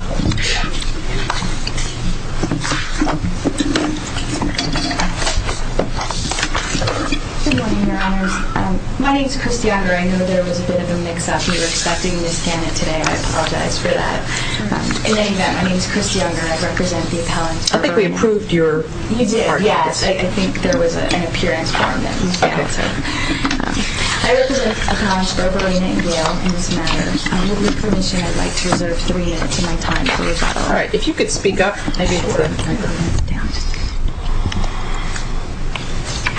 Good morning, your honors. My name is Kristi Unger. I know there was a bit of a mix-up. We were expecting Ms. Gannett today. I apologize for that. In any event, my name is Kristi Unger. I represent the appellant Berberena. I think we approved your argument. You did, yes. I think there was an appearance form that was given. I represent the appellant Berberena in Yale in this matter. Ms. Unger. Ms. Gannett. Ms. Unger. Ms. Unger. Ms. Unger. Ms. Unger. Ms. Gannett. Ms. Unger. Ms. Unger.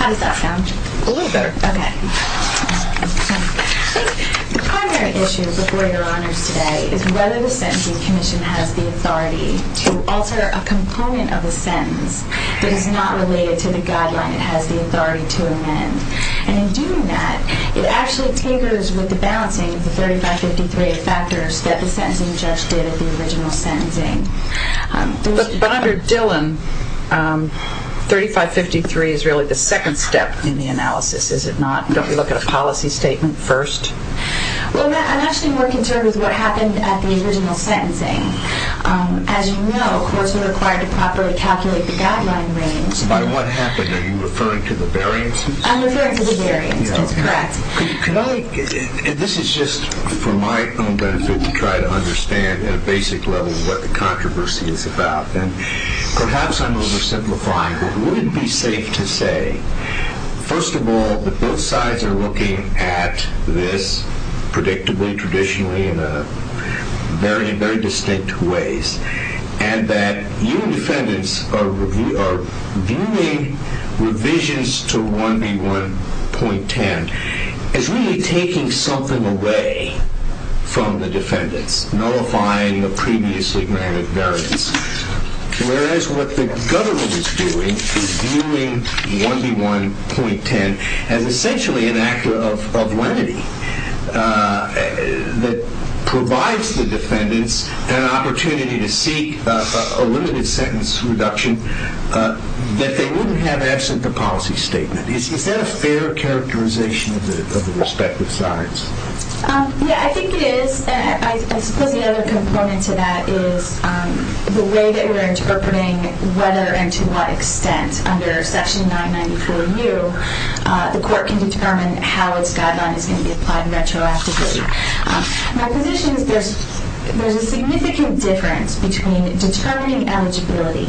Ms. Unger. Ms. Unger. that? Ms. Gannett. Ms. Gannett. Alternative, female defense counsel isual County court. The National Court of Appeasement. Ms. Unger. Yes, ma'am. I will thank the NPR, and others, for a little bit of the intent of this event, just to invite this message to County court so they know what happened. I'm going to start with the first one, which is the way that we're interpreting whether and to what extent under section 994U, the court can determine how its guideline is going to be applied retroactively. My position is there's a significant difference between determining eligibility,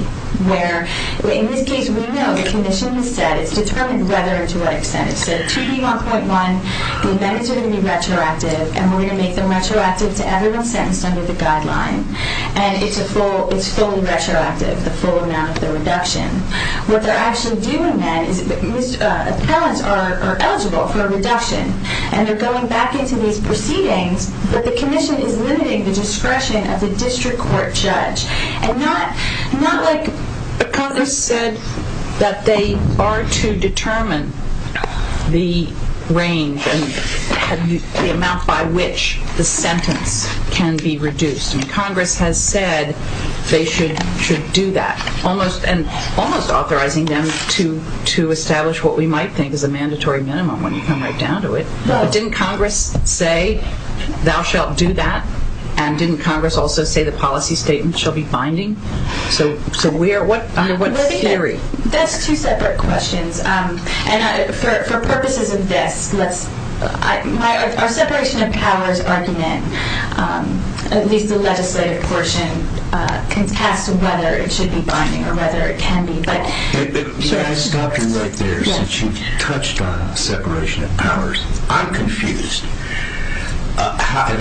where in this case we know the condition has said it's determined whether and to what extent. It said 2B1.1, the amendments are going to be retroactive, and we're going to make them retroactive to everyone sentenced under the guideline. And it's a full, it's fully retroactive, the full amount of the reduction. What they're actually doing, then, is appellants are eligible for a reduction, and they're going back into these proceedings, but the commission is limiting the discretion of the district court judge. And not like Congress said that they are to determine the range and the amount by which the sentence can be reduced. And Congress has said they should do that, almost authorizing them to establish what we might think is a mandatory minimum when you come right down to it. But didn't Congress say, thou shalt do that? And didn't Congress also say the policy statement shall be binding? So what theory? That's two separate questions. And for purposes of this, let's, our separation of powers argument, at least the legislative portion, contests whether it should be binding or whether it can be. But, yes. So I stopped you right there since you touched on separation of powers. I'm confused, and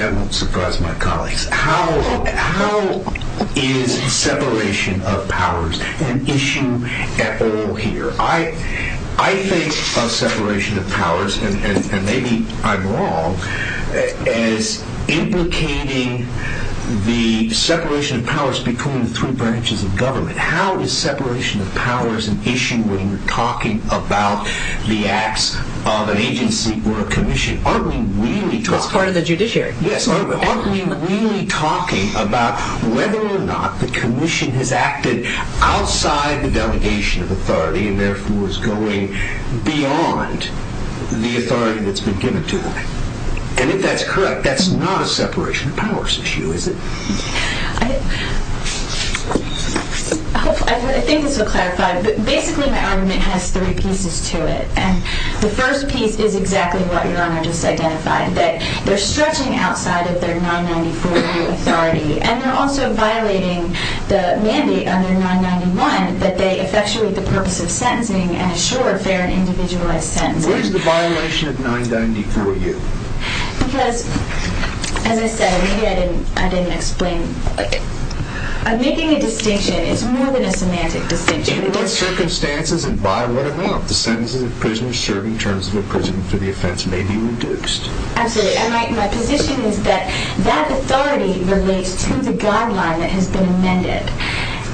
I won't surprise my colleagues. How is separation of powers an issue at all here? I think of separation of powers, and maybe I'm wrong, as implicating the separation of powers between the three branches of government. How is separation of powers an issue when you're talking about the acts of an agency or a commission? Aren't we really talking? That's part of the judiciary. Yes. Aren't we really talking about whether or not the commission has acted outside the delegation of authority and therefore is going beyond the authority that's been given to them? And if that's correct, that's not a separation of powers issue, is it? I think this will clarify, but basically my argument has three pieces to it. And the first piece is exactly what Your Honor just identified, that they're stretching outside of their 994U authority, and they're also violating the mandate under 991 that they effectuate the purpose of sentencing and assure a fair and individualized sentence. What is the violation of 994U? Because, as I said, maybe I didn't explain. I'm making a distinction. It's more than a semantic distinction. Under what circumstances and by what amount the sentences of prisoners serving terms of imprisonment for the offense may be reduced? Absolutely. And my position is that that authority relates to the guideline that has been amended.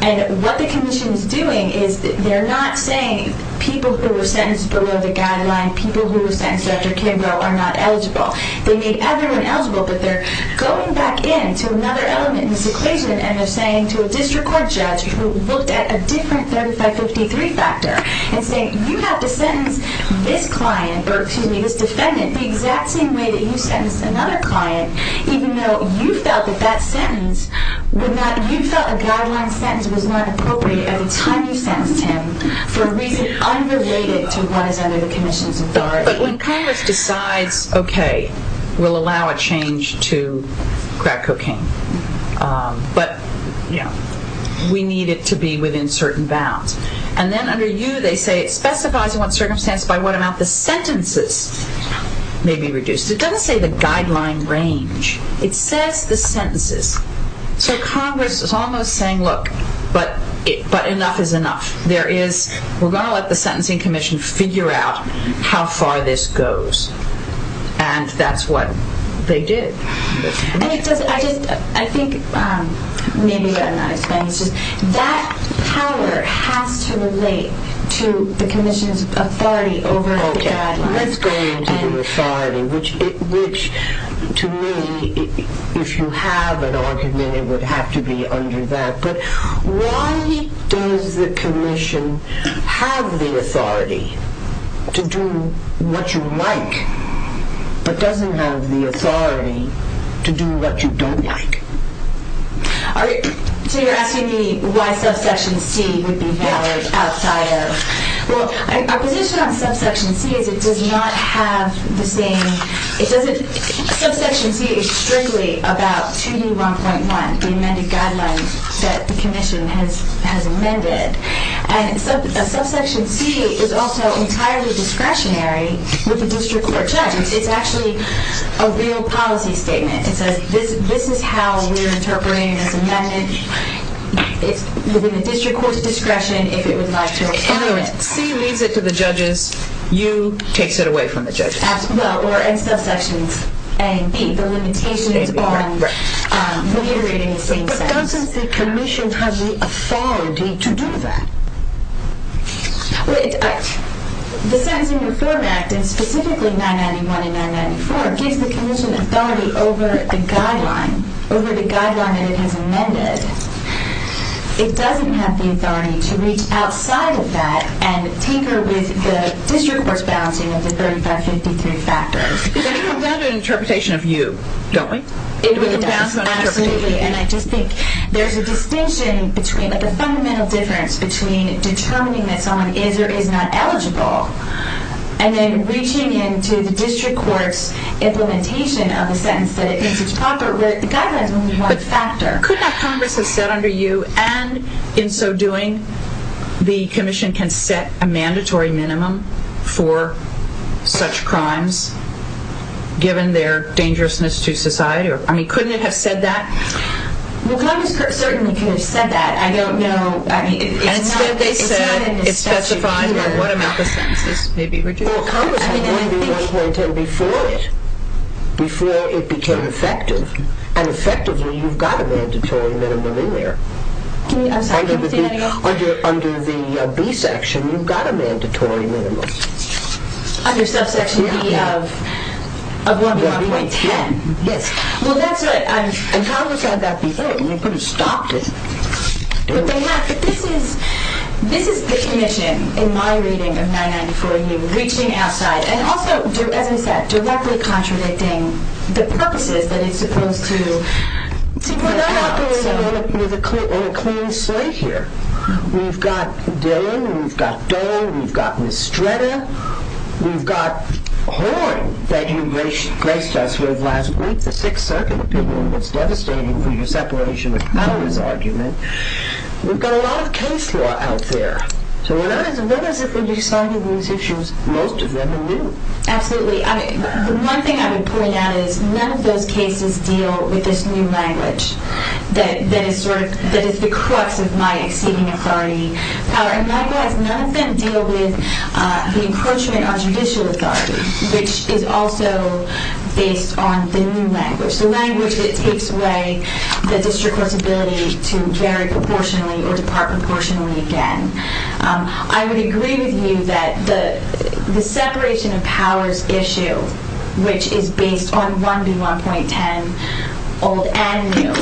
And what the commission is doing is they're not saying people who were sentenced below the guideline, people who were sentenced after Kimbrough, are not eligible. They made everyone eligible, but they're going back in to another element in this equation and they're saying to a district court judge who looked at a different 3553 factor and saying, you have to sentence this client, or excuse me, this defendant, the exact same way that you sentenced another client, even though you felt that that sentence would not, you felt a guideline sentence was not appropriate at the time you sentenced him for a reason underrated to what is under the commission's authority. But when Congress decides, okay, we'll allow a change to crack cocaine, but we need it to be within certain bounds. And then under U they say it specifies what circumstance by what amount the sentences may be reduced. It doesn't say the guideline range. It says the sentences. So Congress is almost saying, look, but enough is enough. There is, we're going to let the sentencing commission figure out how far this goes. And that's what they did. I think maybe what I'm not explaining is that power has to relate to the commission's authority over the guidelines. Let's go into the authority, which to me, if you have an argument, it would have to be under that. But why does the commission have the authority to do what you like, but doesn't have the authority to do what you don't like? So you're asking me why subsection C would be valid outside of, well, our position on this is that it does not have the same, it doesn't, subsection C is strictly about 2D1.1, the amended guidelines that the commission has amended. And subsection C is also entirely discretionary with the district court judges. It's actually a real policy statement. It says this is how we're interpreting this amendment. It's within the district court's discretion if it would like to approve it. In other words, C leads it to the judges, U takes it away from the judges. Well, or in subsections A and B, the limitations on reiterating the same sentence. But doesn't the commission have the authority to do that? The Sentencing Reform Act, and specifically 991 and 994, gives the commission authority over the guideline, over the guideline that it has amended. It doesn't have the authority to reach outside of that and tinker with the district court's balancing of the 3553 factors. But it comes down to an interpretation of you, don't we? It really does, absolutely. And I just think there's a distinction between, like a fundamental difference between determining that someone is or is not eligible and then reaching into the district court's implementation of a sentence that it thinks is proper where the guideline is only one factor. Could not Congress have said under you, and in so doing, the commission can set a mandatory minimum for such crimes given their dangerousness to society? I mean, couldn't it have said that? Well, Congress certainly could have said that. I don't know, I mean, it's not in the statute either. It's specified by what amount the sentences may be reduced. Well, Congress would be 1.10 before it, before it became effective. And effectively, you've got a mandatory minimum in there. I'm sorry, can you say that again? Under the B section, you've got a mandatory minimum. Under subsection B of 1.10? Yes. Well, that's what I'm... And Congress had that before. They could have stopped it. But they have. But this is the commission, in my reading of 994U, reaching outside and also, as I said, directly contradicting the purposes that it's supposed to... Well, they're operating on a clean slate here. We've got Dillon, we've got Doe, we've got Mistretta, we've got Horne that you graced us with last week, the Sixth Circuit opinion was devastating for your separation of powers argument. We've got a lot of case law out there. So what happens if we decided these issues most of them are new? Absolutely. The one thing I would point out is none of those cases deal with this new language that is sort of... that is the crux of my exceeding authority. And likewise, none of them deal with the encroachment on judicial authority, which is also based on the new language. The language that takes away the district court's ability to vary proportionally or depart proportionally again. I would agree with you that the separation of powers issue, which is based on 1B1.10 old and new,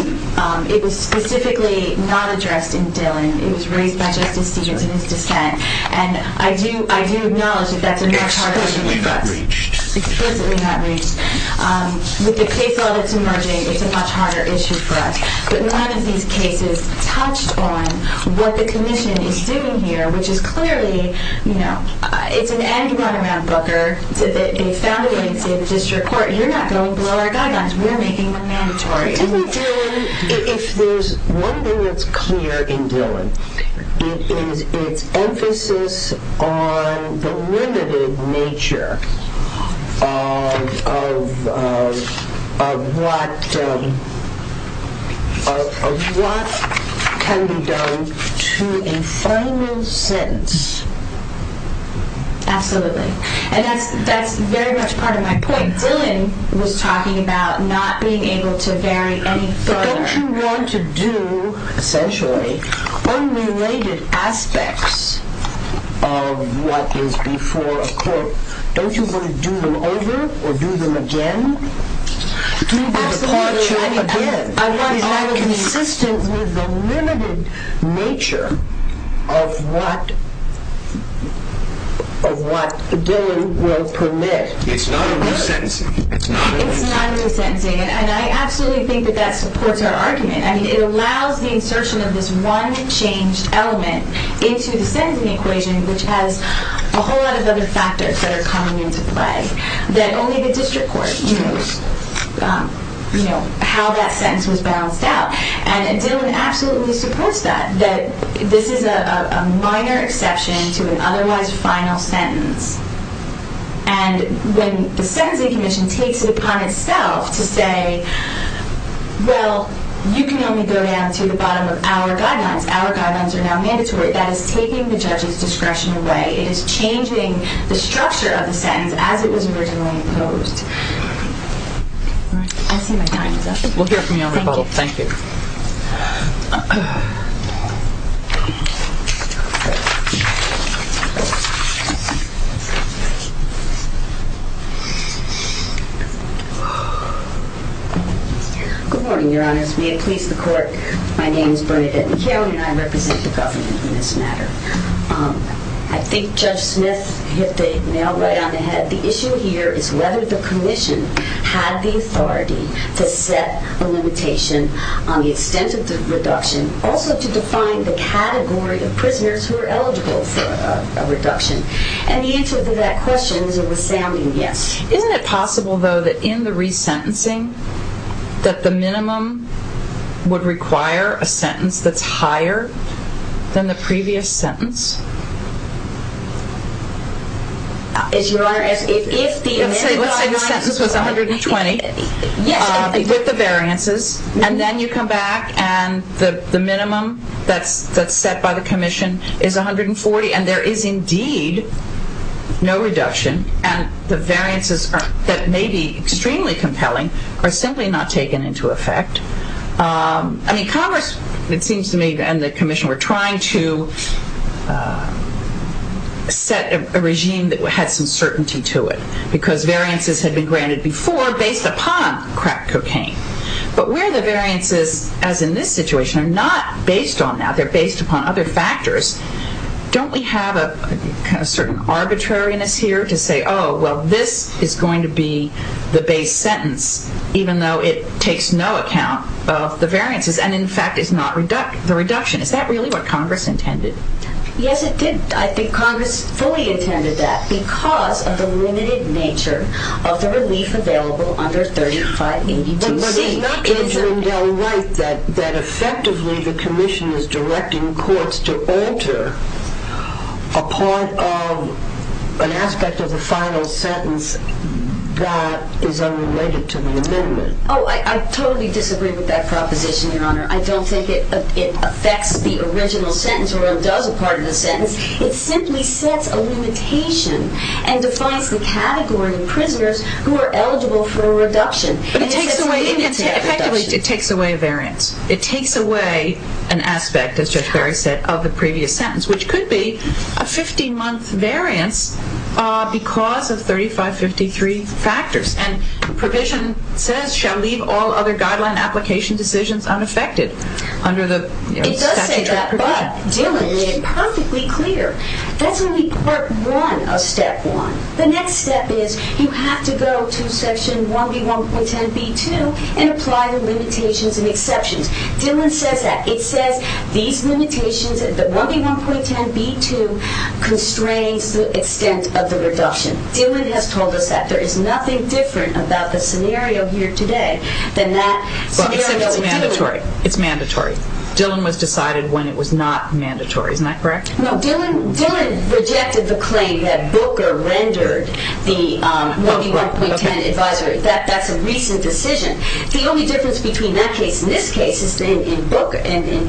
it was specifically not addressed in Dillon. It was raised by Justice Stevens in his dissent. And I do acknowledge that that's a much harder issue for us. Explicitly not reached. With the case law that's emerging, it's a much harder issue for us. But none of these cases touched on what the commission is doing here, which is clearly, you know... It's an angry run around Booker. They found a way to say to the district court, you're not going to blow our guidelines. We're making them mandatory. If there's one thing that's clear in Dillon, it is its emphasis on the limited nature of what can be done to a final sentence. Absolutely. And that's very much part of my point. Dillon was talking about not being able to vary any further. But don't you want to do, essentially, unrelated aspects of what is before a court? Don't you want to do them over or do them again? Do the departure again? Is that consistent with the limited nature of what Dillon will permit? It's not a new sentencing. It's not a new sentencing. And I absolutely think that that supports our argument. It allows the insertion of this one changed element into the sentencing equation, which has a whole lot of other factors that are coming into play that only the district court knows how that sentence was balanced out. And Dillon absolutely supports that, that this is a minor exception to an otherwise final sentence. And when the sentencing commission takes it upon itself to say, well, you can only go down to the bottom of our guidelines. Our guidelines are now mandatory. That is taking the judge's discretion away. It is changing the structure of the sentence as it was originally imposed. I see my time is up. We'll hear from you on recall. Thank you. Good morning, your honors. We have pleased the court. My name is Bernadette McHale and I represent the government in this matter. I think Judge Smith hit the nail right on the head. The issue here is whether the commission had the authority to set a limitation on the extent of the reduction, also to define the category of prisoners who are eligible for a reduction. And the answer to that question is a resounding yes. Isn't it possible, though, that in the resentencing, that the minimum would require a sentence that's higher than the previous sentence? Let's say the sentence was 120 with the variances and then you come back and the minimum that's set by the commission is 140 and there is indeed no reduction and the variances that may be extremely compelling are simply not taken into effect. I mean, Congress, it seems to me, and the commission were trying to set a regime that had some certainty to it because variances had been granted before based upon crack cocaine. But where the variances, as in this situation, are not based on that, they're based upon other factors, don't we have a certain arbitrariness here to say, oh, well, this is going to be the base sentence, even though it takes no account of the variances and, in fact, is not the reduction. Is that really what Congress intended? Yes, it did. I think Congress fully intended that because of the limited nature of the relief available under 3582C. But is not Benjamin Dell right that effectively the commission is directing courts to alter a part of an aspect of the final sentence that is unrelated to the amendment? Oh, I totally disagree with that proposition, Your Honor. I don't think it affects the original sentence or it does a part of the sentence. It simply sets a limitation and defines the category of prisoners who are eligible for a reduction. It takes away a variance. It takes away an aspect, as Judge Barry said, of the previous sentence, which could be a 15-month variance because of 3553 factors. And the provision says, shall leave all other guideline application decisions unaffected under the statutory provision. It does say that, but, Dillon, it's perfectly clear. That's only Part 1 of Step 1. The next step is you have to go to Section 1B.1.10.B.2 and apply the limitations and exceptions. Dillon says that. It says these limitations, 1B.1.10.B.2, constrains the extent of the reduction. Dillon has told us that. There is nothing different about the scenario here today than that scenario with Dillon. Well, except it's mandatory. Dillon was decided when it was not mandatory. Isn't that correct? No, Dillon rejected the claim that Booker rendered the 1B.1.10 advisory. That's a recent decision. The only difference between that case and this case is that in Booker and in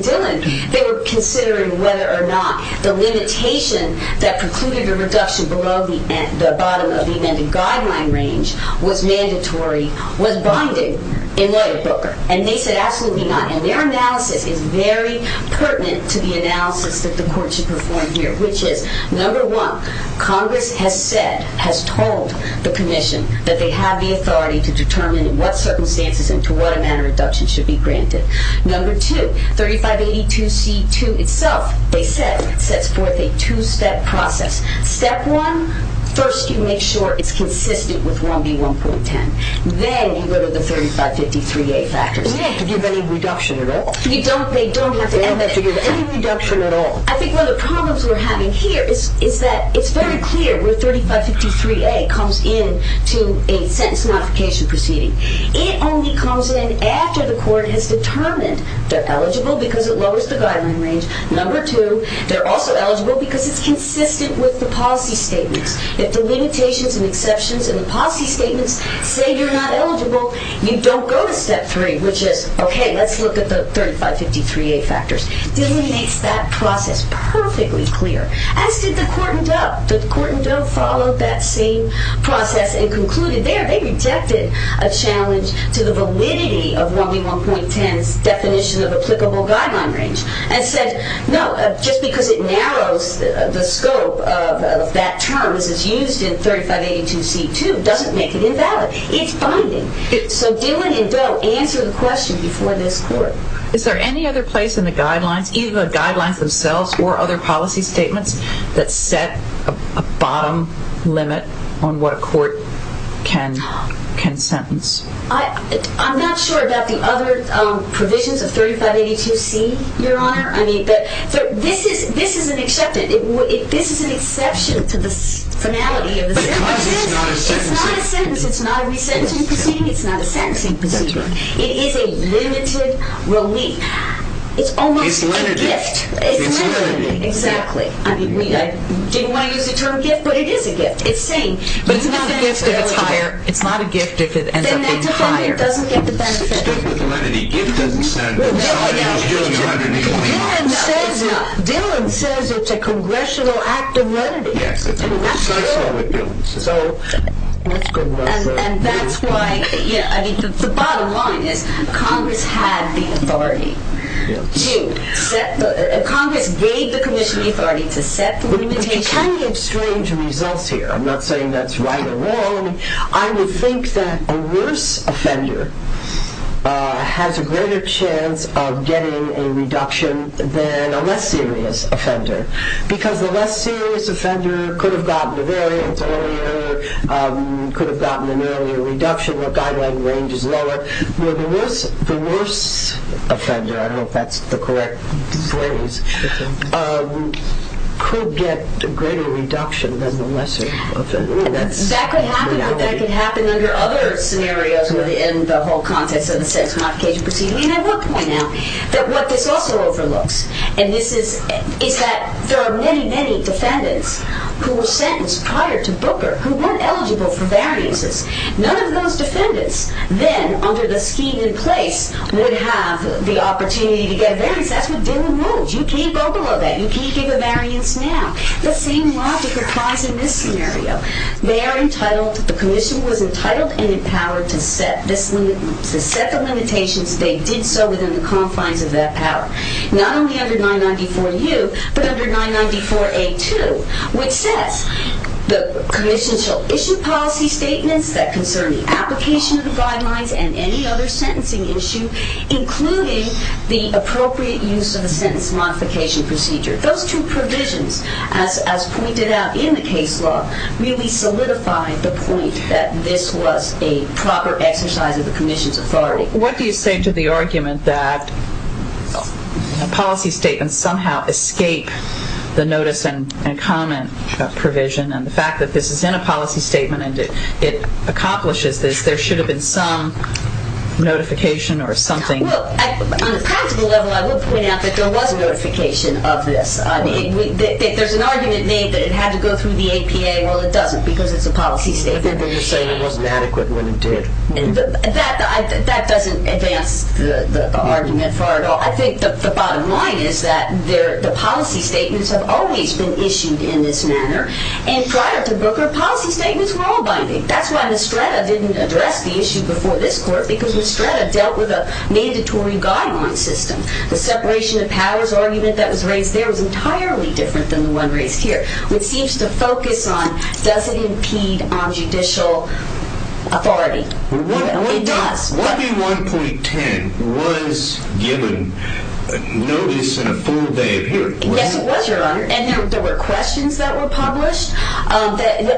Dillon, they were considering whether or not the limitation that precluded the reduction below the bottom of the amended guideline range was binding in lawyer Booker. And they said absolutely not. And their analysis is very pertinent to the analysis that the Court should perform here, which is, number one, Congress has said, has told the Commission that they have the authority to determine in what circumstances and to what amount of reduction should be granted. Number two, 3582C.2 itself, they said, sets forth a two-step process. Step one, first you make sure it's consistent with 1B.1.10. Then you go to the 3553A factors. They don't have to give any reduction at all. They don't have to give any reduction at all. I think one of the problems we're having here is that it's very clear where 3553A comes in to a sentence modification proceeding. It only comes in after the Court has determined they're eligible because it lowers the guideline range. Number two, they're also eligible because it's consistent with the policy statements. If the limitations and exceptions in the policy statements say you're not eligible, you don't go to step three, which is, okay, let's look at the 3553A factors. Dillon makes that process perfectly clear, as did the court in Doe. The court in Doe followed that same process and concluded there they rejected a challenge to the validity of 1B.1.10's definition of applicable guideline range and said, no, just because it narrows the scope of that term as it's used in 3582C.2 doesn't make it invalid. It's binding. So Dillon and Doe answer the question before this Court. Is there any other place in the guidelines, either the guidelines themselves or other policy statements, that set a bottom limit on what a court can sentence? I'm not sure about the other provisions of 3582C, Your Honor. This is an exception to the finality of the sentence. It's not a sentence. It's not a resentencing proceeding. It's not a sentencing proceeding. It is a limited relief. It's almost a gift. It's limited, exactly. I didn't want to use the term gift, but it is a gift. But it's not a gift if it's higher. It's not a gift if it ends up being higher. Then that defendant doesn't get the benefit. Dillon says it's a congressional act of lenity. Yes, it's a congressional act of lenity. And that's why, the bottom line is, Congress had the authority to set the... Congress gave the commission the authority to set the limitation. We can get strange results here. I'm not saying that's right or wrong. I would think that a worse offender has a greater chance of getting a reduction than a less serious offender. Because the less serious offender could have gotten a variance earlier, could have gotten an earlier reduction, the guideline range is lower. The worse offender, I don't know if that's the correct phrase, could get a greater reduction than the lesser offender. That could happen, but that could happen under other scenarios in the whole context of the sex modification proceeding. And I will point out that what this also overlooks, is that there are many, many defendants who were sentenced prior to Booker who weren't eligible for variances. None of those defendants then, under the scheme in place, would have the opportunity to get a variance. That's what Dylan rules. You can't go below that. You can't give a variance now. The same logic applies in this scenario. They are entitled, the commission was entitled and empowered to set the limitations. They did so within the confines of that power. Not only under 994U, but under 994A2, which says, the commission shall issue policy statements that concern the application of the guidelines and any other sentencing issue, including the appropriate use of the sentence modification procedure. Those two provisions, as pointed out in the case law, really solidify the point that this was a proper exercise of the commission's authority. What do you say to the argument that policy statements somehow escape the notice and comment provision and the fact that this is in a policy statement and it accomplishes this, there should have been some notification or something? On a practical level, I would point out that there was a notification of this. There's an argument made that it had to go through the APA. Well, it doesn't because it's a policy statement. I think they're just saying it wasn't adequate when it did. That doesn't advance the argument far at all. I think the bottom line is that the policy statements have always been issued in this manner and prior to Booker, policy statements were all binding. That's why Mistretta didn't address the issue before this court because Mistretta dealt with a mandatory guideline system. The separation of powers argument that was raised there was entirely different than the one raised here which seems to focus on does it impede on judicial It does. 1B1.10 was given notice in a full day of hearing. Yes, it was, Your Honor. There were questions that were published.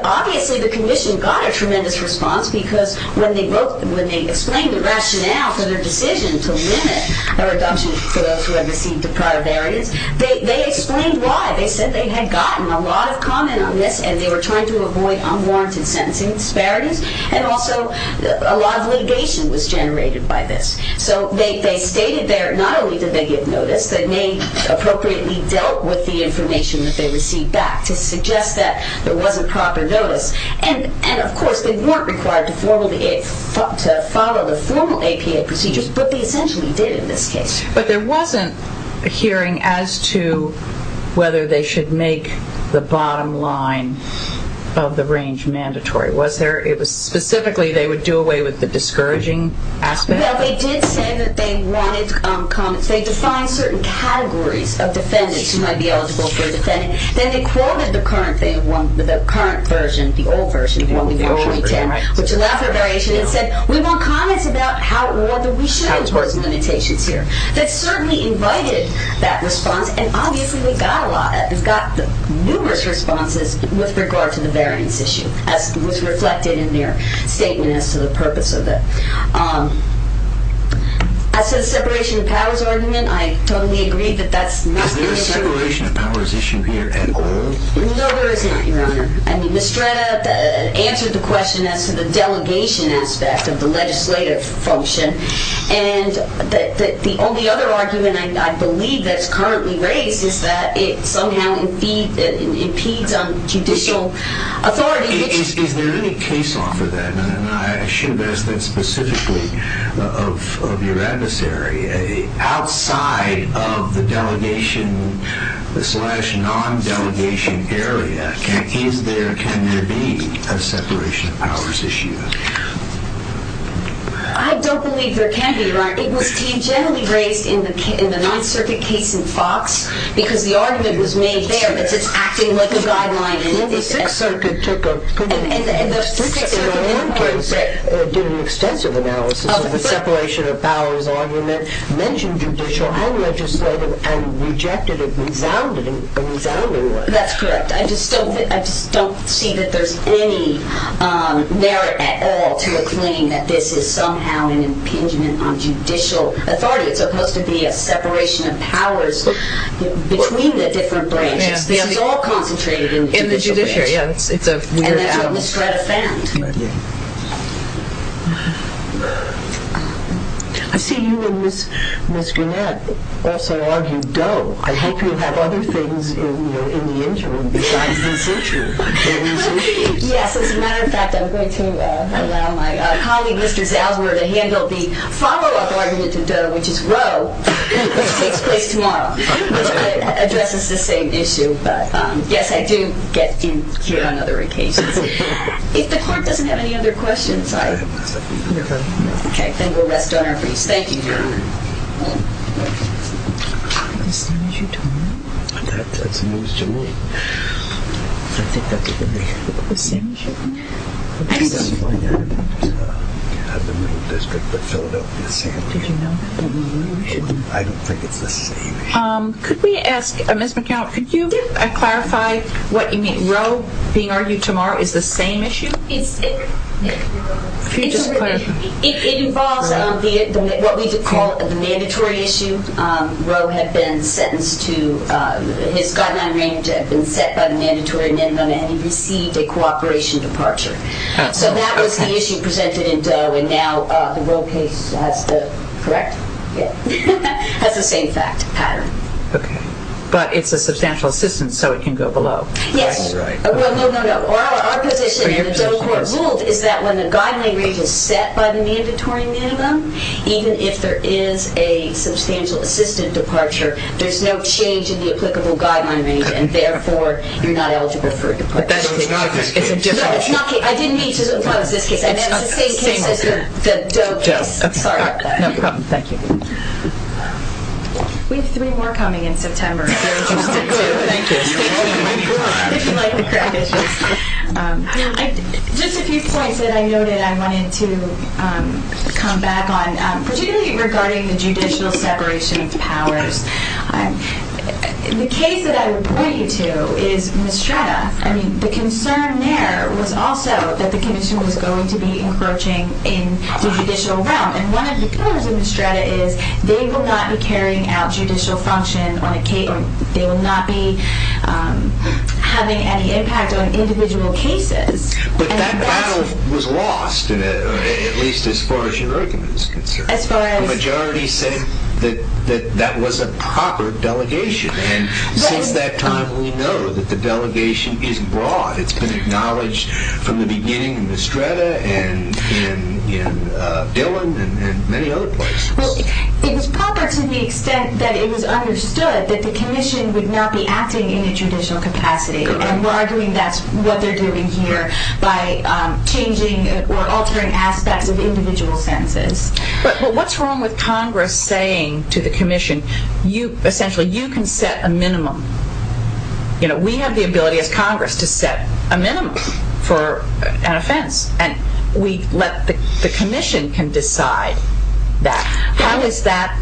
Obviously, the commission got a tremendous response because when they explained the rationale for their decision to limit their adoption for those who had received prior variants, they explained why. They said they had gotten a lot of comment on this and they were trying to avoid unwarranted sentencing disparities and also a lot of litigation was generated by this. They stated there not only did they give notice they may appropriately dealt with the information that they received back to suggest that there wasn't proper notice and of course, they weren't required to follow the formal APA procedures but they essentially did in this case. But there wasn't a hearing as to whether they should make the bottom line of the range mandatory. Was there, specifically they would do away with the discouraging aspect? Well, they did say that they wanted comments. They defined certain categories of defendants who might be eligible for a defendant. Then they quoted the current version, the old version which allowed for variation and said we want comments about how or whether we should impose limitations here. That certainly invited that response and obviously we got a lot. We got numerous responses with regard to the variance issue as was reflected in their statement as to the purpose of it. As to the separation of powers argument, I totally agree that that's not Is there a separation of powers issue here at all? No, there isn't, Your Honor. I mean, Mistretta answered the question as to the delegation aspect of the legislative function and the only other argument I believe that's currently raised is that it somehow impedes on judicial authority Is there any case off of that? I should ask that specifically of your adversary outside of the delegation slash non-delegation area, is there, can there be a separation of powers issue? I don't believe there can be, Your Honor. It was generally raised in the Ninth Circuit case in Fox because the argument was made there that it's acting like a guideline Well, the Sixth Circuit took a Sixth Circuit did an extensive analysis of the separation of powers argument, mentioned judicial and legislative and rejected it resoundingly That's correct. I just don't see that there's any merit at all to a claim that this is somehow an impingement on judicial authority. It's supposed to be a separation of powers between the different branches. This is all concentrated in the judicial branch And that's what Ms. Greta found I see you and Ms. Greta also argue Doe I hope you have other things in the interim besides this issue Yes, as a matter of fact, I'm going to allow my colleague, Mr. Zalzwer to handle the follow-up argument to Doe, which is Roe which takes place tomorrow which addresses the same issue Yes, I do get in here on other occasions If the court doesn't have any other questions then we'll rest on our feet Thank you Is this the same issue tomorrow? That's news to me I think that's the same issue Could we ask Ms. McCown, could you clarify what you mean? Roe being argued tomorrow is the same issue? It involves what we call the mandatory issue Roe has been sentenced to, his guideline range has been set by the mandatory minimum and he received a cooperation departure So that was the issue presented in Doe and now the Roe case has the, correct? Has the same fact pattern But it's a substantial assistance, so it can go below No, no, no Our position in the Doe court ruled is that when the guideline range is set by the mandatory minimum, even if there is a substantial assistant departure, there's no change in the applicable guideline range and therefore you're not eligible for a It's a different case It's the same case as the Doe case No problem, thank you We have three more coming in September Thank you Just a few points that I noted I wanted to come back on, particularly regarding the judicial separation of powers The case that I would point you to is Mistretta I mean, the concern there was also that the commission was going to be encroaching in the judicial realm, and one of the pillars of Mistretta is they will not be carrying out judicial function on a case they will not be having any impact on individual cases But that battle was lost at least as far as your argument is concerned As far as? The majority said that that was a proper delegation and since that time we know that the delegation is broad It's been acknowledged from the beginning in Mistretta and in Dillon and many other places It was proper to the extent that it was understood that the commission would not be acting in a judicial capacity and we're arguing that's what they're doing here by changing or altering aspects of individual sentences But what's wrong with Congress saying to the commission essentially you can set a minimum You know, we have the ability as Congress to set a minimum for an offense and we let the commission can decide that How is that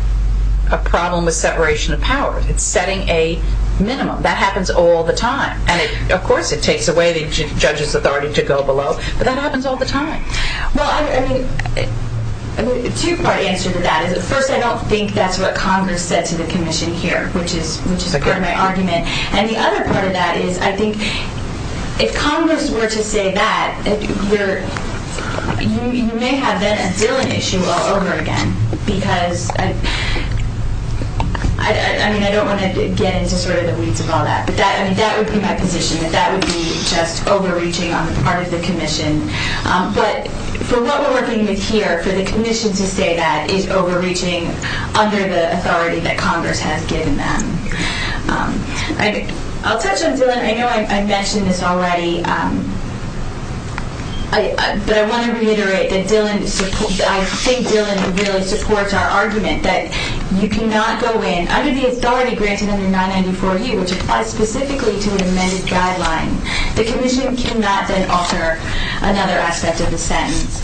a problem with separation of power? It's setting a minimum. That happens all the time, and of course it takes away the judge's authority to go below but that happens all the time Well, I mean a two part answer to that is first I don't think that's what Congress said to the commission here, which is part of my argument and the other part of that is I think if Congress were to say that you may have then a Dillon issue all over again because I mean I don't want to get into sort of the weeds of all that but that would be my position that that would be just overreaching on the part of the commission, but for what we're working with here, for the commission to say that is overreaching under the authority that Congress has given them I'll touch on Dillon. I know I mentioned this already but I want to reiterate that Dillon I think Dillon really supports our argument that you cannot go in, under the authority granted under 994U, which applies specifically to an amended guideline, the commission cannot then alter another aspect of the sentence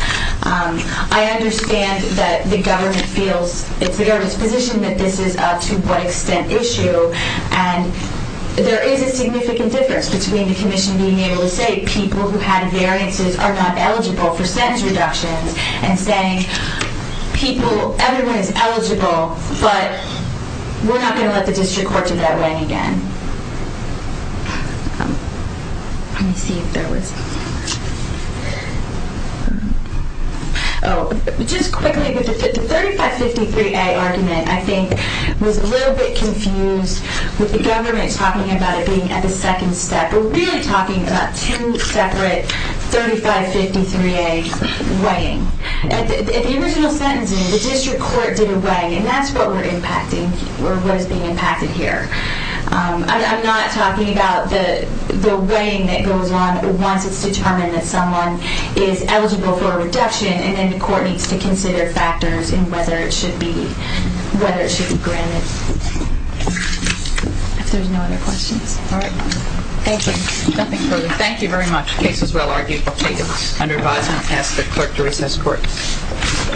I understand that the government feels, it's the government's position that this is a to what extent issue and there is a significant difference between the commission being able to say people who had variances are not eligible for sentence reductions and saying people, everyone is eligible but we're not going to let the district court do that way again let me see if there was oh just quickly the 3553A argument I think was a little bit confused with the government talking about it being at the second step, we're really talking about two separate 3553A weighing at the original sentencing the district court did a weighing and that's what we're impacting or what is being I'm not talking about the weighing that goes on once it's determined that someone is eligible for a reduction and then the court needs to consider factors in whether it should be, whether it should be granted if there's no other questions thank you, nothing further thank you very much, case is well argued under advisement, ask the clerk to recess court